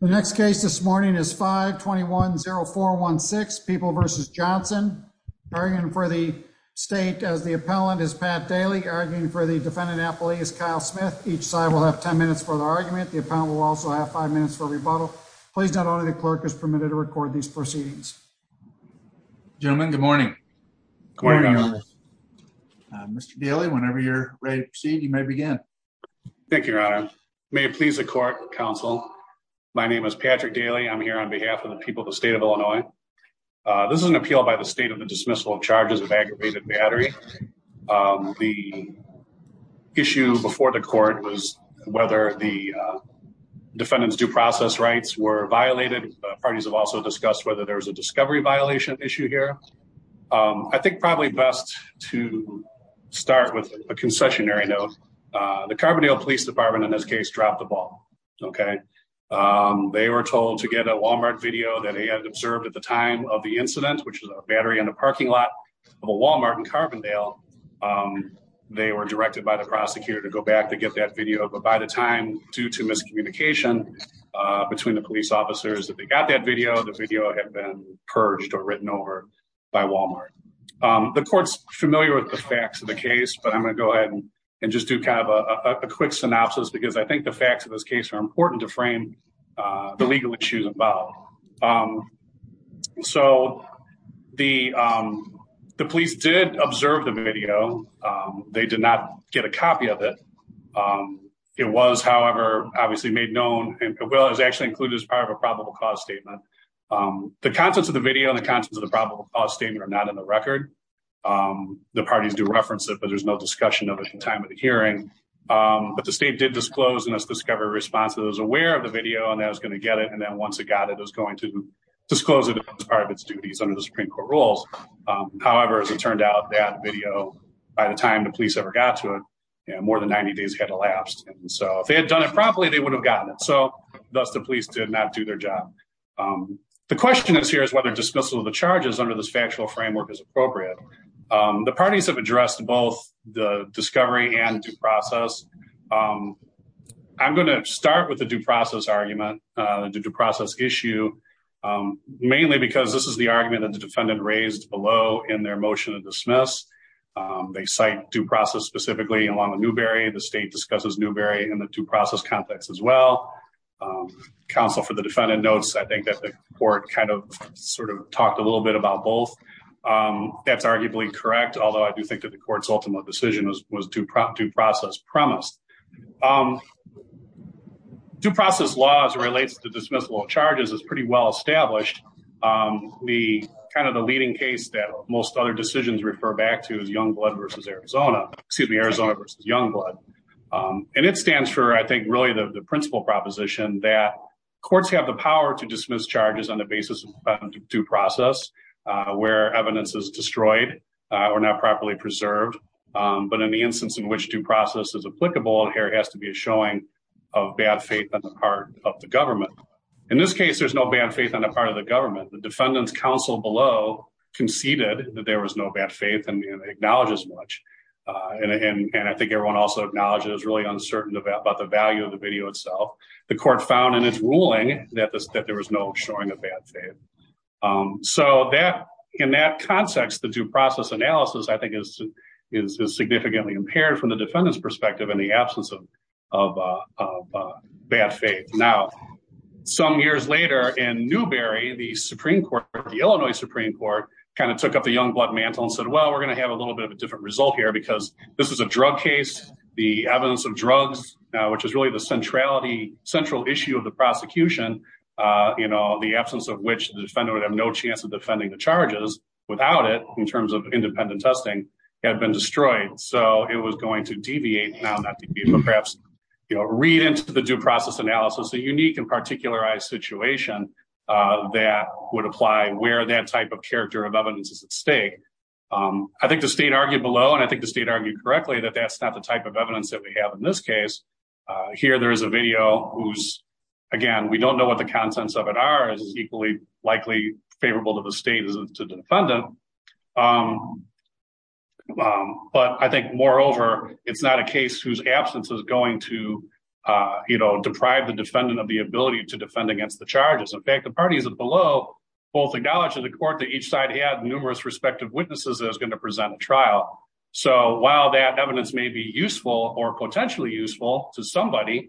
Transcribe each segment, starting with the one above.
The next case this morning is 521-0416, People v. Johnson. Arguing for the state as the appellant is Pat Daly. Arguing for the defendant-appellee is Kyle Smith. Each side will have 10 minutes for their argument. The appellant will also have five minutes for rebuttal. Please note only the clerk is permitted to record these proceedings. Gentlemen, good morning. Good morning. Mr. Daly, whenever you're ready to proceed, you may begin. Thank you, Your Honor. May it please the court, counsel. My name is Patrick Daly. I'm here on behalf of the people of the state of Illinois. This is an appeal by the state of the dismissal of charges of aggravated battery. The issue before the court was whether the defendant's due process rights were violated. Parties have also discussed whether there was a discovery violation issue here. I think probably best to start with a concessionary note. The Carbondale Police case dropped the ball. They were told to get a Walmart video that they had observed at the time of the incident, which was a battery in the parking lot of a Walmart in Carbondale. They were directed by the prosecutor to go back to get that video. But by the time, due to miscommunication between the police officers that they got that video, the video had been purged or written over by Walmart. The court's familiar with the facts of the case, but I'm going to go ahead and just do kind of a quick synopsis because I think the facts of this case are important to frame the legal issues involved. So the police did observe the video. They did not get a copy of it. It was, however, obviously made known and it was actually included as part of a probable cause statement. The contents of the video and the contents of the probable cause statement are not in the record. The parties do reference it, there's no discussion of it at the time of the hearing. But the state did disclose in its discovery response that it was aware of the video and that it was going to get it. And then once it got it, it was going to disclose it as part of its duties under the Supreme Court rules. However, as it turned out, that video, by the time the police ever got to it, more than 90 days had elapsed. And so if they had done it properly, they would have gotten it. So thus the police did not do their job. The question is here is whether dismissal of the charges under this factual framework is appropriate. The parties have addressed both the discovery and due process. I'm going to start with the due process argument, the due process issue, mainly because this is the argument that the defendant raised below in their motion of dismiss. They cite due process specifically along the Newberry. The state discusses Newberry in the due process context as well. Counsel for the defendant notes, I think that the court kind of sort of talked a little bit about both. That's arguably correct, although I do think that the court's ultimate decision was due process premise. Due process laws relates to dismissal of charges is pretty well established. The kind of the leading case that most other decisions refer back to is Youngblood versus Arizona, excuse me, Arizona versus Youngblood. And it stands for, I think, really the principal proposition that courts have the power to dismiss charges on the due process where evidence is destroyed or not properly preserved. But in the instance in which due process is applicable, there has to be a showing of bad faith on the part of the government. In this case, there's no bad faith on the part of the government. The defendant's counsel below conceded that there was no bad faith and acknowledge as much. And I think everyone also acknowledges really uncertain about the value of the video itself. The court found in ruling that there was no showing of bad faith. So in that context, the due process analysis, I think is significantly impaired from the defendant's perspective in the absence of bad faith. Now, some years later in Newberry, the Supreme Court, the Illinois Supreme Court kind of took up the Youngblood mantle and said, well, we're going to have a little bit of a different result here because this is a drug case. The evidence of drugs, which is really central issue of the prosecution, the absence of which the defendant would have no chance of defending the charges without it in terms of independent testing, had been destroyed. So it was going to deviate now, not deviate, but perhaps read into the due process analysis a unique and particularized situation that would apply where that type of character of evidence is at stake. I think the state argued below, and I think the state argued correctly that that's not the type of evidence that we have in this case. Here, there is a video whose, again, we don't know what the contents of it are, is equally likely favorable to the state as to the defendant. But I think moreover, it's not a case whose absence is going to deprive the defendant of the ability to defend against the charges. In fact, the parties below both acknowledged in the court that each side had numerous respective witnesses that was going to present a trial. So while that evidence may be useful or potentially useful to somebody,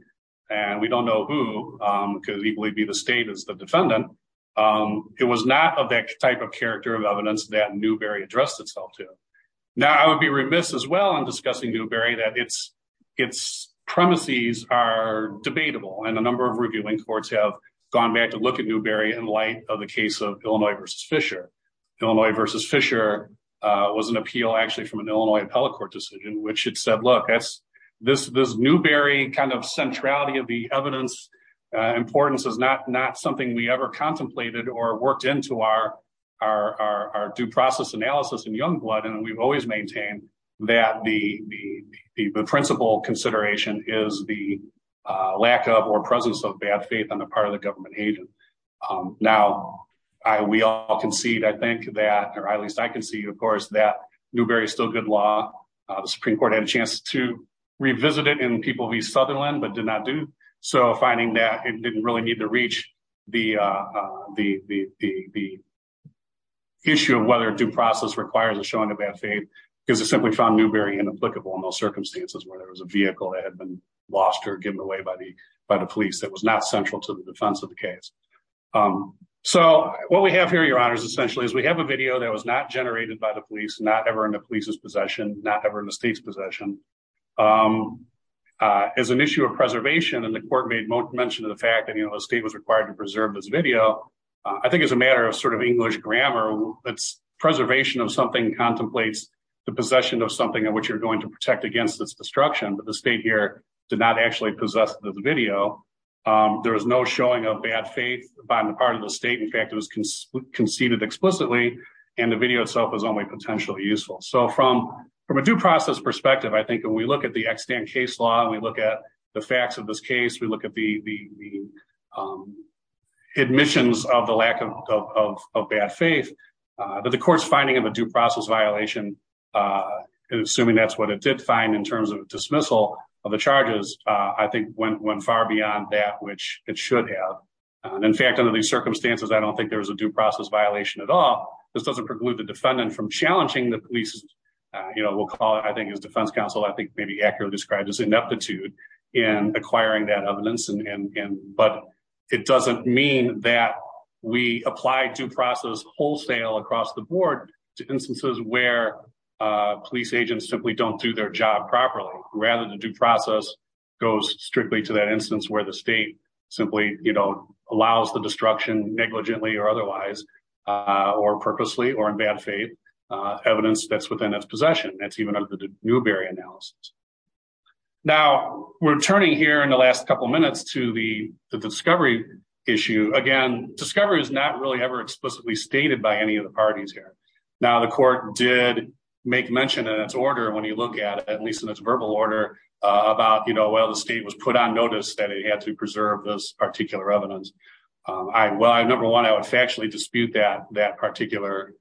and we don't know who could equally be the state as the defendant, it was not of that type of character of evidence that Newberry addressed itself to. Now, I would be remiss as well in discussing Newberry that its premises are debatable, and a number of reviewing courts have gone back to look at Newberry in light of the case of Illinois v. Fisher. Illinois v. Fisher was an appeal actually an Illinois appellate court decision, which it said, look, this Newberry kind of centrality of the evidence importance is not something we ever contemplated or worked into our due process analysis in Youngblood, and we've always maintained that the principal consideration is the lack of or presence of bad faith on the part of the government agent. Now, we all concede, I think that, or at least I concede, of course, that Newberry is still good law. The Supreme Court had a chance to revisit it in people v. Sutherland, but did not do so, finding that it didn't really need to reach the issue of whether due process requires a showing of bad faith, because it simply found Newberry inapplicable in those circumstances where there was a vehicle that had been lost or given away by the police that was not central to the defense of the case. Um, so what we have here, your honors, essentially, is we have a video that was not generated by the police, not ever in the police's possession, not ever in the state's possession. Um, uh, as an issue of preservation and the court made mention of the fact that, you know, the state was required to preserve this video, I think as a matter of sort of English grammar, that's preservation of something contemplates the possession of something in which you're going to protect against this destruction, but the state here did not actually possess the video. Um, there was no showing of bad faith by the part of the state. In fact, it was conceded explicitly and the video itself was only potentially useful. So from, from a due process perspective, I think when we look at the extant case law and we look at the facts of this case, we look at the, the, the, um, admissions of the lack of, of, of bad faith, uh, that the court's finding of a due process violation, uh, assuming that's what it did find in terms of dismissal of the charges, uh, I think went, went far beyond that, which it should have. And in fact, under these circumstances, I don't think there was a due process violation at all. This doesn't preclude the defendant from challenging the police. Uh, you know, we'll call it, I think as defense counsel, I think maybe accurately described as ineptitude in acquiring that evidence. And, and, and, but it doesn't mean that we apply due process wholesale across the rather than due process goes strictly to that instance where the state simply, you know, allows the destruction negligently or otherwise, uh, or purposely or in bad faith, uh, evidence that's within its possession. That's even under the Newberry analysis. Now we're turning here in the last couple of minutes to the discovery issue. Again, discovery is not really ever explicitly stated by any of the parties here. Now the court did make mention in its order. When you look at at least in its verbal order, uh, about, you know, well, the state was put on notice that it had to preserve those particular evidence. Um, I, well, I, number one, I would factually dispute that, that particular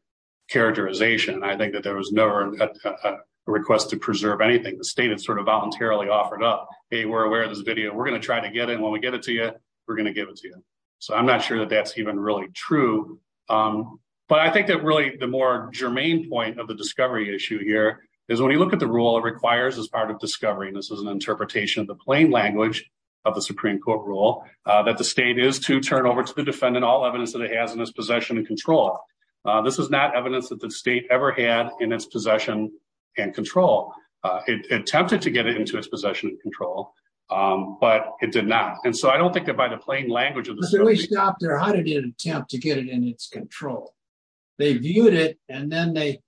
characterization. I think that there was never a request to preserve anything. The state is sort of voluntarily offered up. Hey, we're aware of this video. We're going to try to get in when we get it to you, we're going to give it to you. So I'm not sure that that's even really true. Um, but I think that really the more germane point of the discovery issue here is when you look at the rule, it requires as part of discovery, and this is an interpretation of the plain language of the Supreme court rule, uh, that the state is to turn over to the defendant, all evidence that it has in its possession and control. Uh, this is not evidence that the state ever had in its possession and control. Uh, it attempted to get it into his possession and control. Um, but it did not. And so I don't think that by the plain language of the stop there, how did it attempt to get it in its control? They viewed it and then they,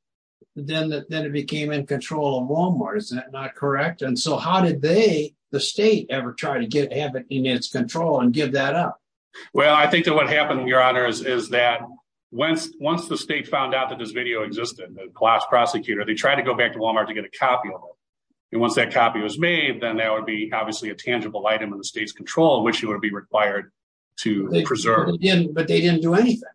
then, then it became in control of Walmart. Is that not correct? And so how did they, the state ever try to get, have it in its control and give that up? Well, I think that what happened in your honor is, is that once, once the state found out that this video existed, the class prosecutor, they tried to go back to Walmart to get a copy of it. And once that copy was made, then that would be obviously a tangible item in the state's control, which you would be required to preserve. But they didn't do anything.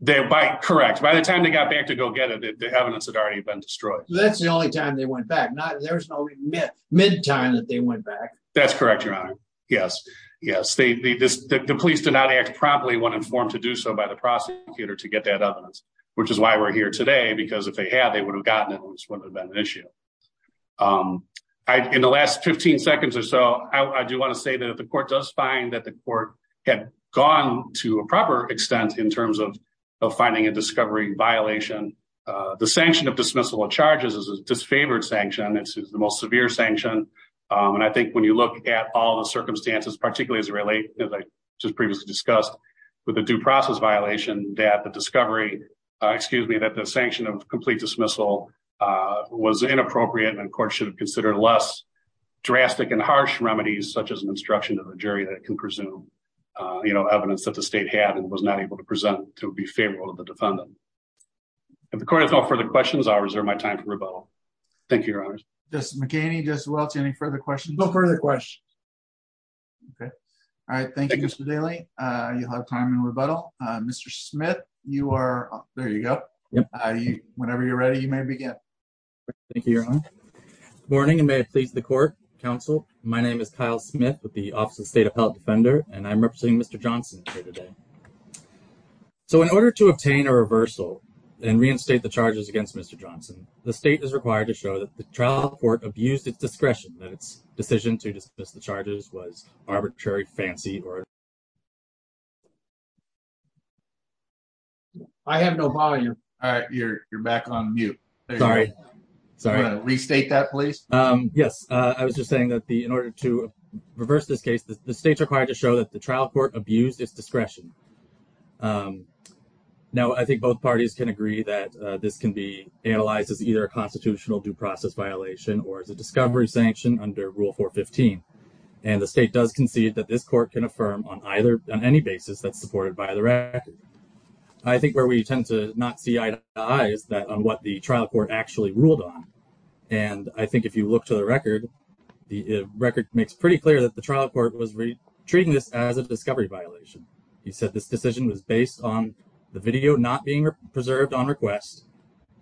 They, by correct. By the time they got back to go get it, the evidence had already been destroyed. That's the only time they went back. Not, there was no remit mid time that they went back. That's correct. Your honor. Yes. Yes. They, the, this, the police did not act properly when informed to do so by the prosecutor to get that evidence, which is why we're here today. Because if they had, they would have gotten it. And this wouldn't have been an issue. Um, I, in the last 15 seconds or so, I do want to say that if the court does find that the court had gone to a proper extent in terms of, of finding a discovery violation, uh, the sanction of dismissal of charges is a disfavored sanction. It's the most severe sanction. Um, and I think when you look at all the circumstances, particularly as it relates, as I just previously discussed with the due process violation that the discovery, uh, excuse me, that the sanction of complete dismissal, uh, was inappropriate and courts should have considered less drastic and harsh remedies, such as an instruction to the jury that can presume, uh, you know, evidence that the state had and was not able to present to be favorable to the defendant. If the court has no further questions, I'll reserve my time for rebuttal. Thank you. Your honor. Just McCain. He just wants any further questions before the question. Okay. All right. Thank you. Mr. Daly. Uh, you'll have time in rebuttal. Uh, Mr. Smith, you are, there you go. Whenever you're ready, you may begin. Thank you. Morning. And may it please the court council. My name is Kyle Smith with the office of state of health defender. And I'm representing Mr. Johnson here today. So in order to obtain a reversal and reinstate the charges against Mr. Johnson, the state is required to show that the trial court abused its discretion that its decision to dismiss the charges was arbitrary, fancy, or I have no volume. You're back on mute. Sorry. Sorry. Restate that please. Um, yes. Uh, I was just saying that the, in order to reverse this case, the state's required to show that the trial court abused its discretion. Um, now I think both parties can agree that, uh, this can be analyzed as either a constitutional due process violation, or it's a discovery sanction under rule four 15. And the state does concede that this court can affirm on either on any basis that's supported by the record. I think where we tend to not see eyes that on what the trial court actually ruled on. And I think if you look to the record, the record makes pretty clear that the trial court was treating this as a discovery violation. He said, this decision was based on the video, not being preserved on request.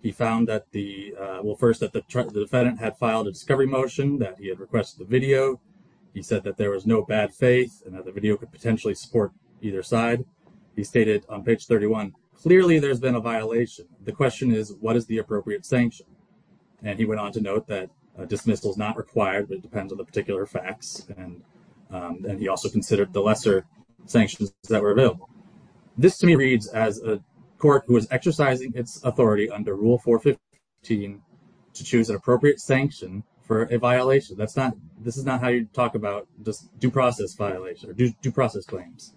He found that the, uh, well, first that the defendant had filed a discovery motion that he had requested the video. He said that there was no bad faith and that the video could potentially support either side. He stated on page 31, clearly there's been a violation. The question is what is the appropriate sanction? And he went on to note that a dismissal is not required, but it depends on the particular facts. And, um, and he also considered the lesser sanctions that were available. This to me reads as a court who was exercising its authority under rule four 15 to choose an appropriate sanction for a violation. That's not, this is not how you talk about just due process violation or due process claims.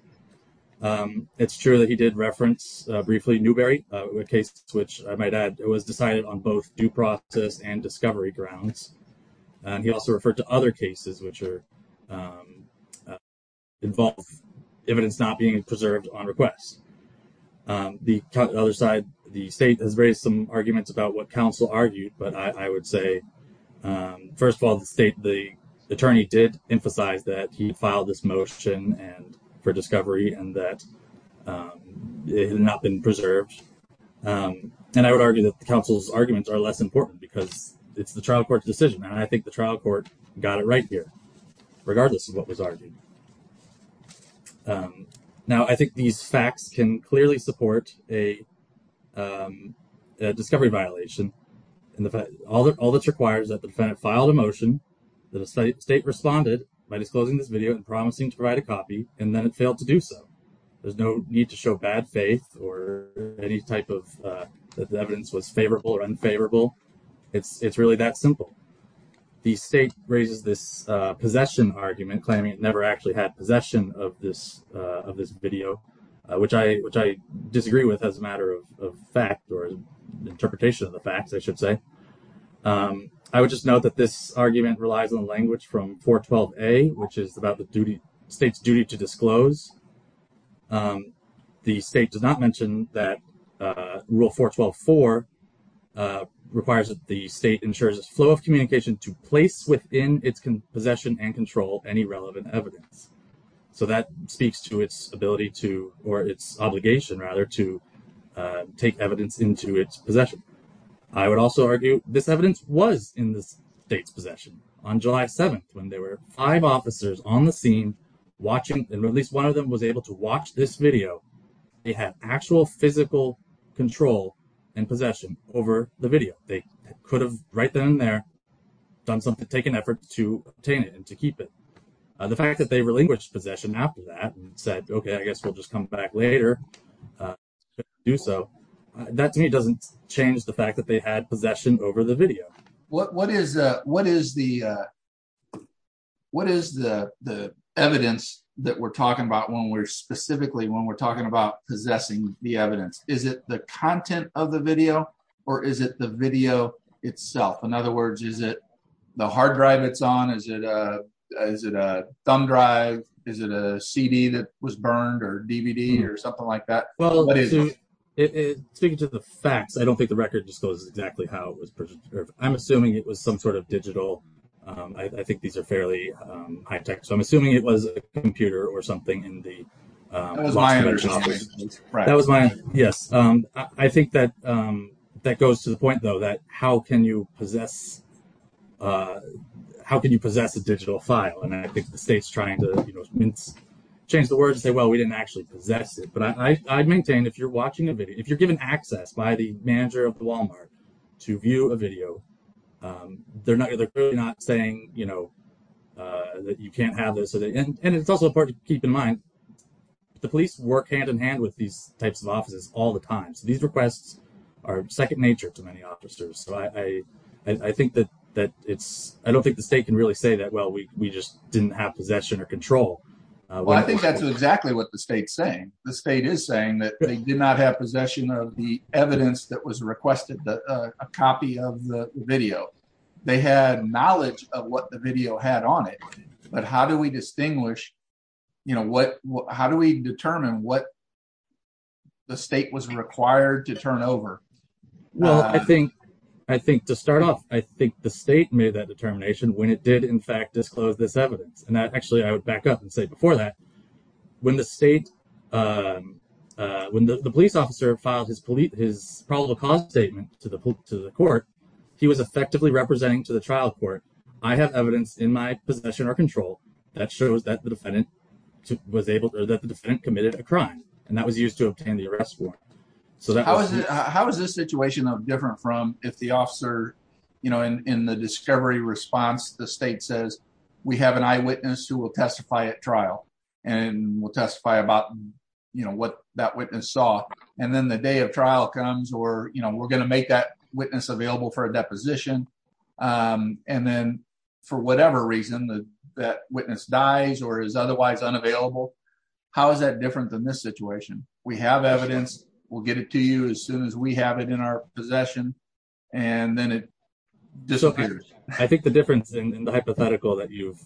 Um, it's true that he did reference, uh, briefly Newberry, uh, with cases, which I might add, it was decided on both due process and discovery grounds. And he also referred to other cases, which are, um, uh, involved evidence not being preserved on request. Um, the other side, the state has raised some arguments about what counsel argued, but I would say, um, first of all, the state, the attorney did emphasize that he filed this motion and for discovery and that, um, it had not been preserved. Um, and I would argue that the trial court's decision, and I think the trial court got it right here, regardless of what was argued. Um, now I think these facts can clearly support a, um, a discovery violation and the fact all that, all that's required is that the defendant filed a motion that the state responded by disclosing this video and promising to provide a copy. And then it failed to do so. There's no need to show bad faith or any type of, uh, that the evidence was favorable or unfavorable. It's, it's really that simple. The state raises this, uh, possession argument claiming it never actually had possession of this, uh, of this video, uh, which I, which I disagree with as a matter of fact or interpretation of the facts, I should say. Um, I would just note that this argument relies on language from 412A, which is about the duty, state's duty to disclose. Um, the state does not mention that, uh, rule 412.4, uh, requires that the state ensures a flow of communication to place within its possession and control any relevant evidence. So that speaks to its ability to, or its obligation rather to, uh, take evidence into its possession. I would also argue this evidence was in the state's possession on July 7th when there were five officers on the scene watching, and at least one of them was able to watch this video. They had actual physical control and possession over the video. They could have right then and there done something to take an effort to obtain it and to keep it. Uh, the fact that they relinquished possession after that and said, okay, I guess we'll just come back later. Uh, do so that to me, it doesn't change the fact that they had possession over the video. What, what is, uh, what is the, uh, what is the, the evidence that we're talking about when we're specifically, when we're talking about possessing the evidence? Is it the content of the video or is it the video itself? In other words, is it the hard drive it's on? Is it, uh, is it a thumb drive? Is it a CD that was burned or DVD or something like that? Well, speaking to the facts, I don't think the record discloses exactly how it was I'm assuming it was some sort of digital. Um, I, I think these are fairly, um, high tech. So I'm assuming it was a computer or something in the, um, that was my, yes. Um, I think that, um, that goes to the point though, that how can you possess, uh, how can you possess a digital file? And I think the state's trying to change the word and say, well, we didn't actually possess it, but I, I maintain if you're watching a video, if you're given access by the manager of Walmart to view a video, um, they're not, they're clearly not saying, you know, uh, that you can't have this. And it's also important to keep in mind the police work hand in hand with these types of offices all the time. So these requests are second nature to many officers. So I, I, I think that, that it's, I don't think the state can really say that, well, we just didn't have possession or control. Well, I think that's exactly what the state's saying. The state is saying that they did not have possession of the evidence that was requested that a copy of the video, they had knowledge of what the video had on it, but how do we distinguish, you know, what, how do we determine what the state was required to turn over? Well, I think, I think to start off, I think the state made that determination when it did in fact disclose this evidence. And that the police officer filed his police, his probable cause statement to the court, he was effectively representing to the trial court. I have evidence in my possession or control that shows that the defendant was able to, that the defendant committed a crime and that was used to obtain the arrest form. So that was, how was this situation of different from if the officer, you know, in, in the discovery response, the state says we have an eyewitness who will testify at trial and we'll testify about, you know, what that witness saw. And then the day of trial comes, or, you know, we're going to make that witness available for a deposition. And then for whatever reason that witness dies or is otherwise unavailable, how is that different than this situation? We have evidence, we'll get it to you as soon as we have it in our possession. And then it disappears. I think the difference in the hypothetical that you've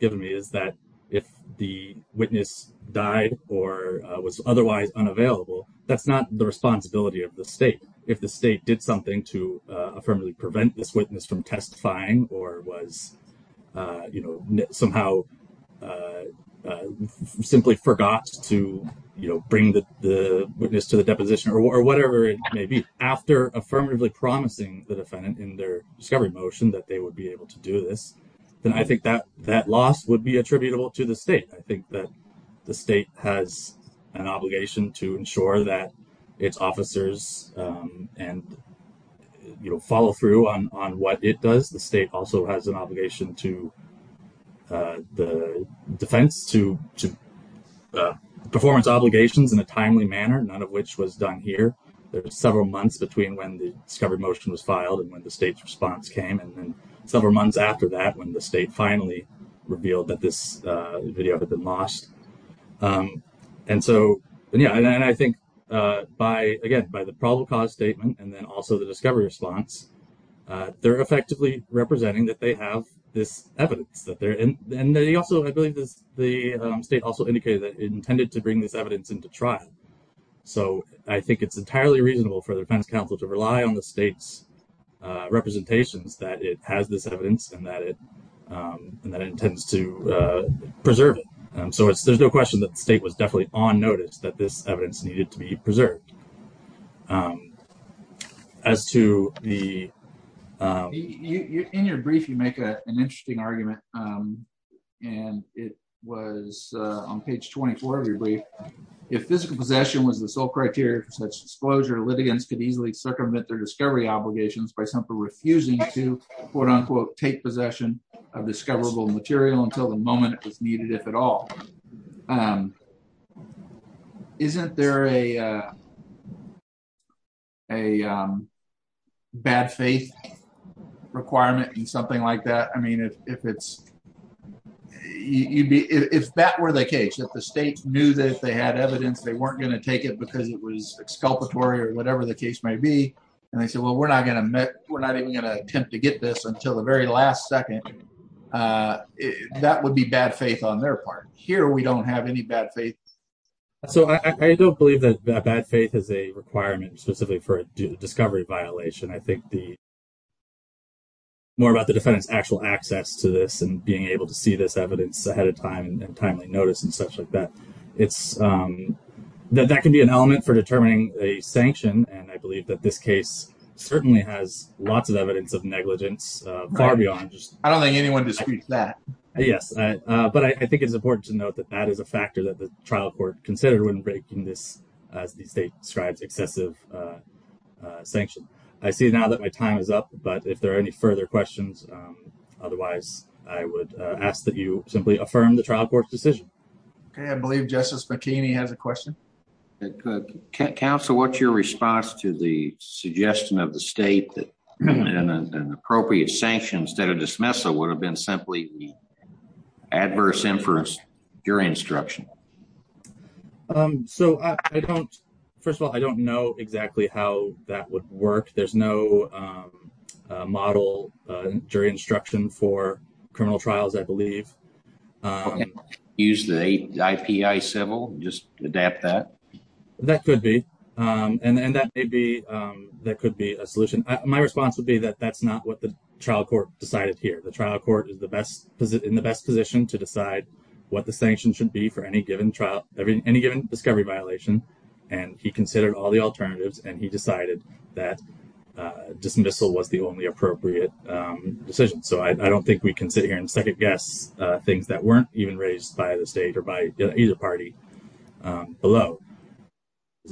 given me is that if the witness died or was otherwise unavailable, that's not the responsibility of the state. If the state did something to affirmatively prevent this witness from testifying, or was, you know, somehow simply forgot to, you know, bring the witness to the deposition or whatever it may be after affirmatively promising the defendant in their discovery motion that they would be able to do this, then I think that that loss would be attributable to the state. I think that the state has an obligation to ensure that its officers and, you know, follow through on what it does. The state also has an obligation to the defense to performance obligations in a timely manner, none of which was done here. There were several months between when the discovery motion was filed and when the state's several months after that, when the state finally revealed that this video had been lost. And so, yeah, and I think by, again, by the probable cause statement and then also the discovery response, they're effectively representing that they have this evidence that they're in. And they also, I believe the state also indicated that it intended to bring this evidence into trial. So I think it's entirely reasonable for the defense counsel to rely on the state's representations that it has this evidence and that it intends to preserve it. So there's no question that the state was definitely on notice that this evidence needed to be preserved. As to the... In your brief, you make an interesting argument, and it was on page 24 of your brief. If physical possession was the sole criteria for such disclosure, litigants could easily circumvent their discovery obligations by simply refusing to, quote-unquote, take possession of discoverable material until the moment it was needed, if at all. Isn't there a bad faith requirement in something like that? I mean, if it's... If that were the case, if the state knew that if they had evidence, they weren't going to take it because it was exculpatory or whatever the case might be, and they said, well, we're not even going to attempt to get this until the very last second, that would be bad faith on their part. Here, we don't have any bad faith. So I don't believe that bad faith is a requirement specifically for a discovery violation. I think more about the defendant's actual access to this and being able to see this evidence ahead of time and timely notice and such like that. That can be an element for determining a sanction, and I believe that this case certainly has lots of evidence of negligence far beyond just... I don't think anyone disagrees with that. Yes. But I think it's important to note that that is a factor that the trial court considered when breaking this, as the state describes, excessive sanction. I see now that my time is up, but if there are any further questions, otherwise, I would ask that you simply affirm the trial court's decision. Okay. I believe Justice McKinney has a question. Counsel, what's your response to the suggestion of the state that an appropriate sanction instead of dismissal would have been simply adverse inference during instruction? So I don't... First of all, I don't know exactly how that would work. There's no model during instruction for criminal trials, I believe. Use the IPI civil, just adapt that. That could be. And that may be... That could be a solution. My response would be that that's not what the trial court decided here. The trial court is in the best position to decide what the sanction should be for any given discovery violation, and he considered all the alternatives, and he decided that dismissal was the only appropriate decision. So I don't think we can sit here and second-guess things that weren't even raised by the state or by either party below,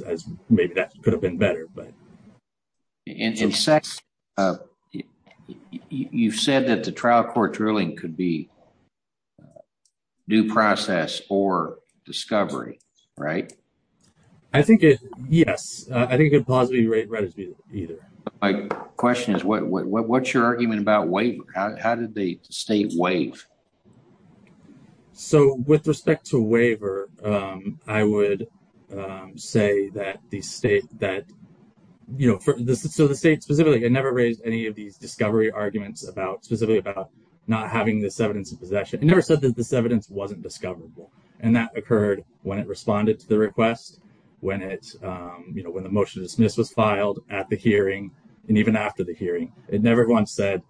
as maybe that could have been better, but... In a sense, you've said that the trial court's ruling could be due process or discovery, right? I think it... Yes. I think it could plausibly be read as either. My question is, what's your argument about waiver? How did the state waive? So with respect to waiver, I would say that the state that... So the state specifically, it never raised any of these discovery arguments specifically about not having this evidence of discovery. It just said that this evidence wasn't discoverable, and that occurred when it responded to the request, when the motion to dismiss was filed at the hearing, and even after the hearing. It never once said,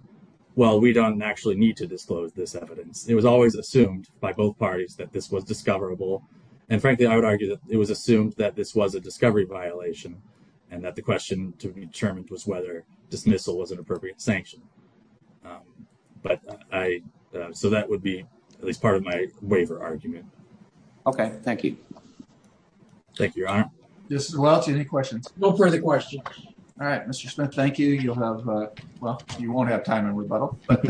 well, we don't actually need to disclose this evidence. It was always assumed by both parties that this was discoverable, and frankly, I would argue that it was assumed that this was a discovery violation and that the question to be determined was whether dismissal was an appropriate sanction. But I... So that would be at least part of my waiver argument. Okay. Thank you. Thank you, Your Honor. Well, do you have any questions? No further questions. All right, Mr. Smith, thank you. You'll have... Well, you won't have time in rebuttal, but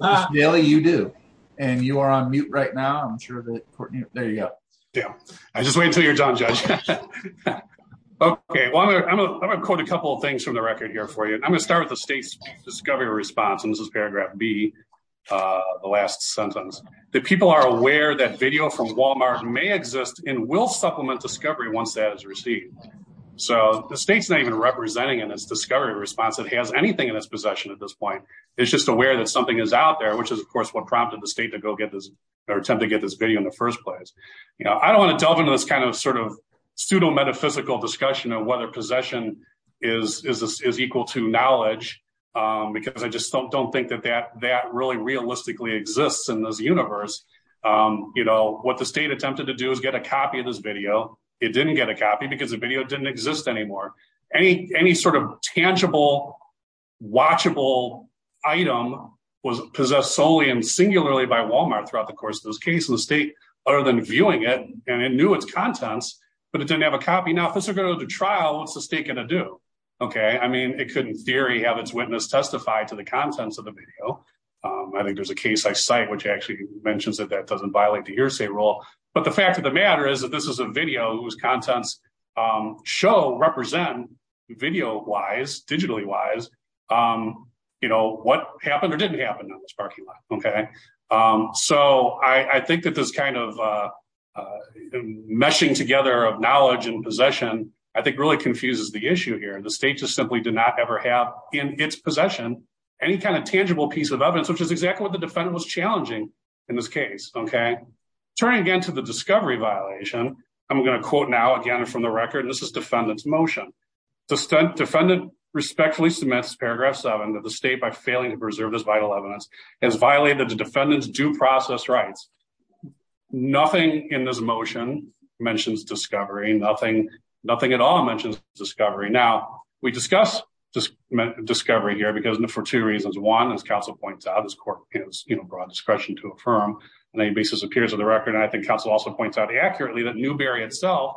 Ms. Bailey, you do, and you are on mute right now. I'm sure that... There you go. Yeah. I just wait until you're done, Judge. Okay. Well, I'm going to quote a couple of things from the record here for you. I'm going to start with the state's discovery response, and this is paragraph B, the last sentence, that people are aware that video from Walmart may exist and will supplement discovery once that is received. So the state's not even representing in its discovery response that it has anything in its possession at this point. It's just aware that something is out there, which is, of course, what prompted the state to go get this or attempt to get this video in the first place. I don't want to delve into this kind of sort of pseudo-metaphysical discussion of whether possession is equal to knowledge, because I just don't think that that really realistically exists in this universe. What the state attempted to do is get a copy of this video. It didn't get a copy because the video didn't exist anymore. Any sort of tangible, watchable item was possessed solely and singularly by Walmart throughout the course of this case, and the state, other than viewing it, and it knew its contents, but it didn't have a copy. Now, if this is going to go to trial, what's the state going to do? I mean, it could, in theory, have its witness testify to the contents of the video. I think there's a case I cite, which actually mentions that that doesn't violate the hearsay rule, but the fact of the matter is that this is a video whose contents show, represent, video-wise, digitally-wise, what happened or didn't happen on this parking lot. So I think that this kind of meshing together of knowledge and possession, I think, really confuses the issue here. The state just simply did not ever have, in its possession, any kind of tangible piece of evidence, which is exactly what the defendant was challenging in this case, okay? Turning again to the discovery violation, I'm going to quote now, again, from the record. This is defendant's motion. The defendant respectfully submits paragraph seven that the state, by failing to preserve this vital evidence, has violated the defendant's due process rights. Nothing in this motion mentions discovery. Nothing at all mentions discovery. Now, we discuss discovery here for two reasons. One, as counsel points out, this court has broad discretion to affirm on any basis appears in the record, and I think counsel also points out accurately that Newbery itself,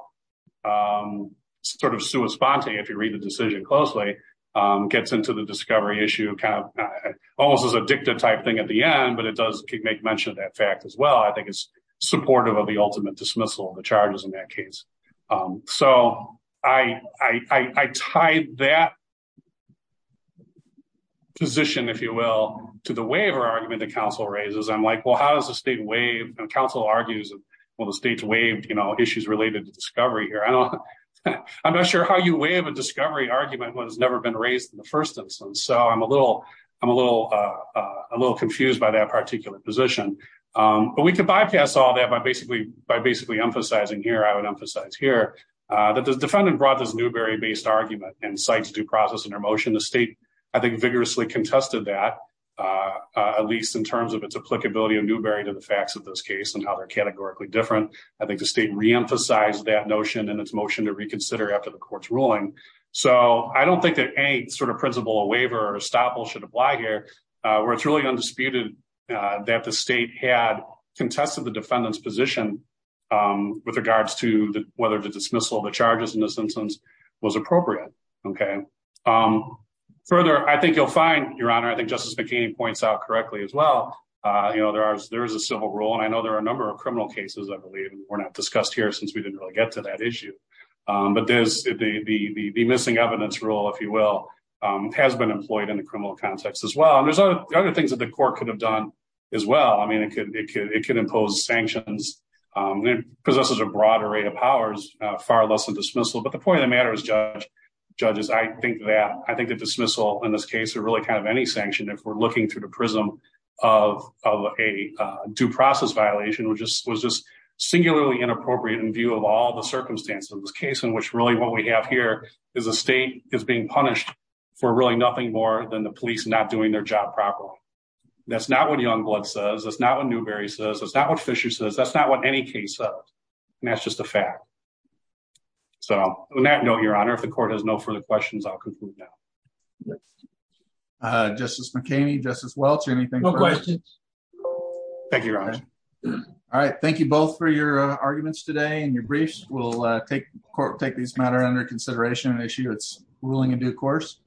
sort of sui sponte, if you read the decision closely, gets into the discovery issue kind of almost as a dicta-type thing at the end, but it does make mention of that fact as well. I think it's supportive of the ultimate dismissal of the charges in that case. So, I tie that position, if you will, to the waiver argument that counsel raises. I'm like, well, how does the state waive, and counsel argues, well, the state's waived, you know, issues related to discovery here. I don't, I'm not sure how you waive a discovery argument when it's never been raised in the first instance, so I'm a little, I'm a little, a little confused by that particular position. But we could bypass all that by basically, by basically emphasizing here, I would emphasize here, that the defendant brought this Newbery based argument and cites due process in their motion. The state, I think, vigorously contested that, at least in terms of its applicability of Newbery to the facts of this case and how they're categorically different. I think the state reemphasized that notion in its motion to reconsider after the court's ruling. So, I don't think that any sort of principle or waiver estoppel should apply here, where it's really undisputed that the state had contested the defendant's position with regards to whether the dismissal of the charges in this instance was appropriate. Okay. Further, I think you'll find, Your Honor, I think Justice McKean points out correctly as well, you know, there are, there is a civil rule, and I know there are a number of criminal cases, I believe, were not discussed here since we didn't really get to that issue. But there's, the missing evidence rule, if you will, has been employed in the criminal context as well. And there's other things that the court could have done as well. I mean, it could impose sanctions. It possesses a broader array of powers, far less than dismissal. But the point of the matter is, judges, I think that, I think the dismissal in this case, or really kind of any sanction, if we're looking through the prism of a due process violation, which was just singularly appropriate in view of all the circumstances of this case, in which really what we have here is a state is being punished for really nothing more than the police not doing their job properly. That's not what Youngblood says. That's not what Newberry says. That's not what Fisher says. That's not what any case says. And that's just a fact. So on that note, Your Honor, if the court has no further questions, I'll conclude now. Justice McKean, Justice Welch, anything? No questions. Thank you, Your Honor. All right. Thank you both for your arguments today and your briefs. We'll take this matter under consideration, an issue that's ruling in due course.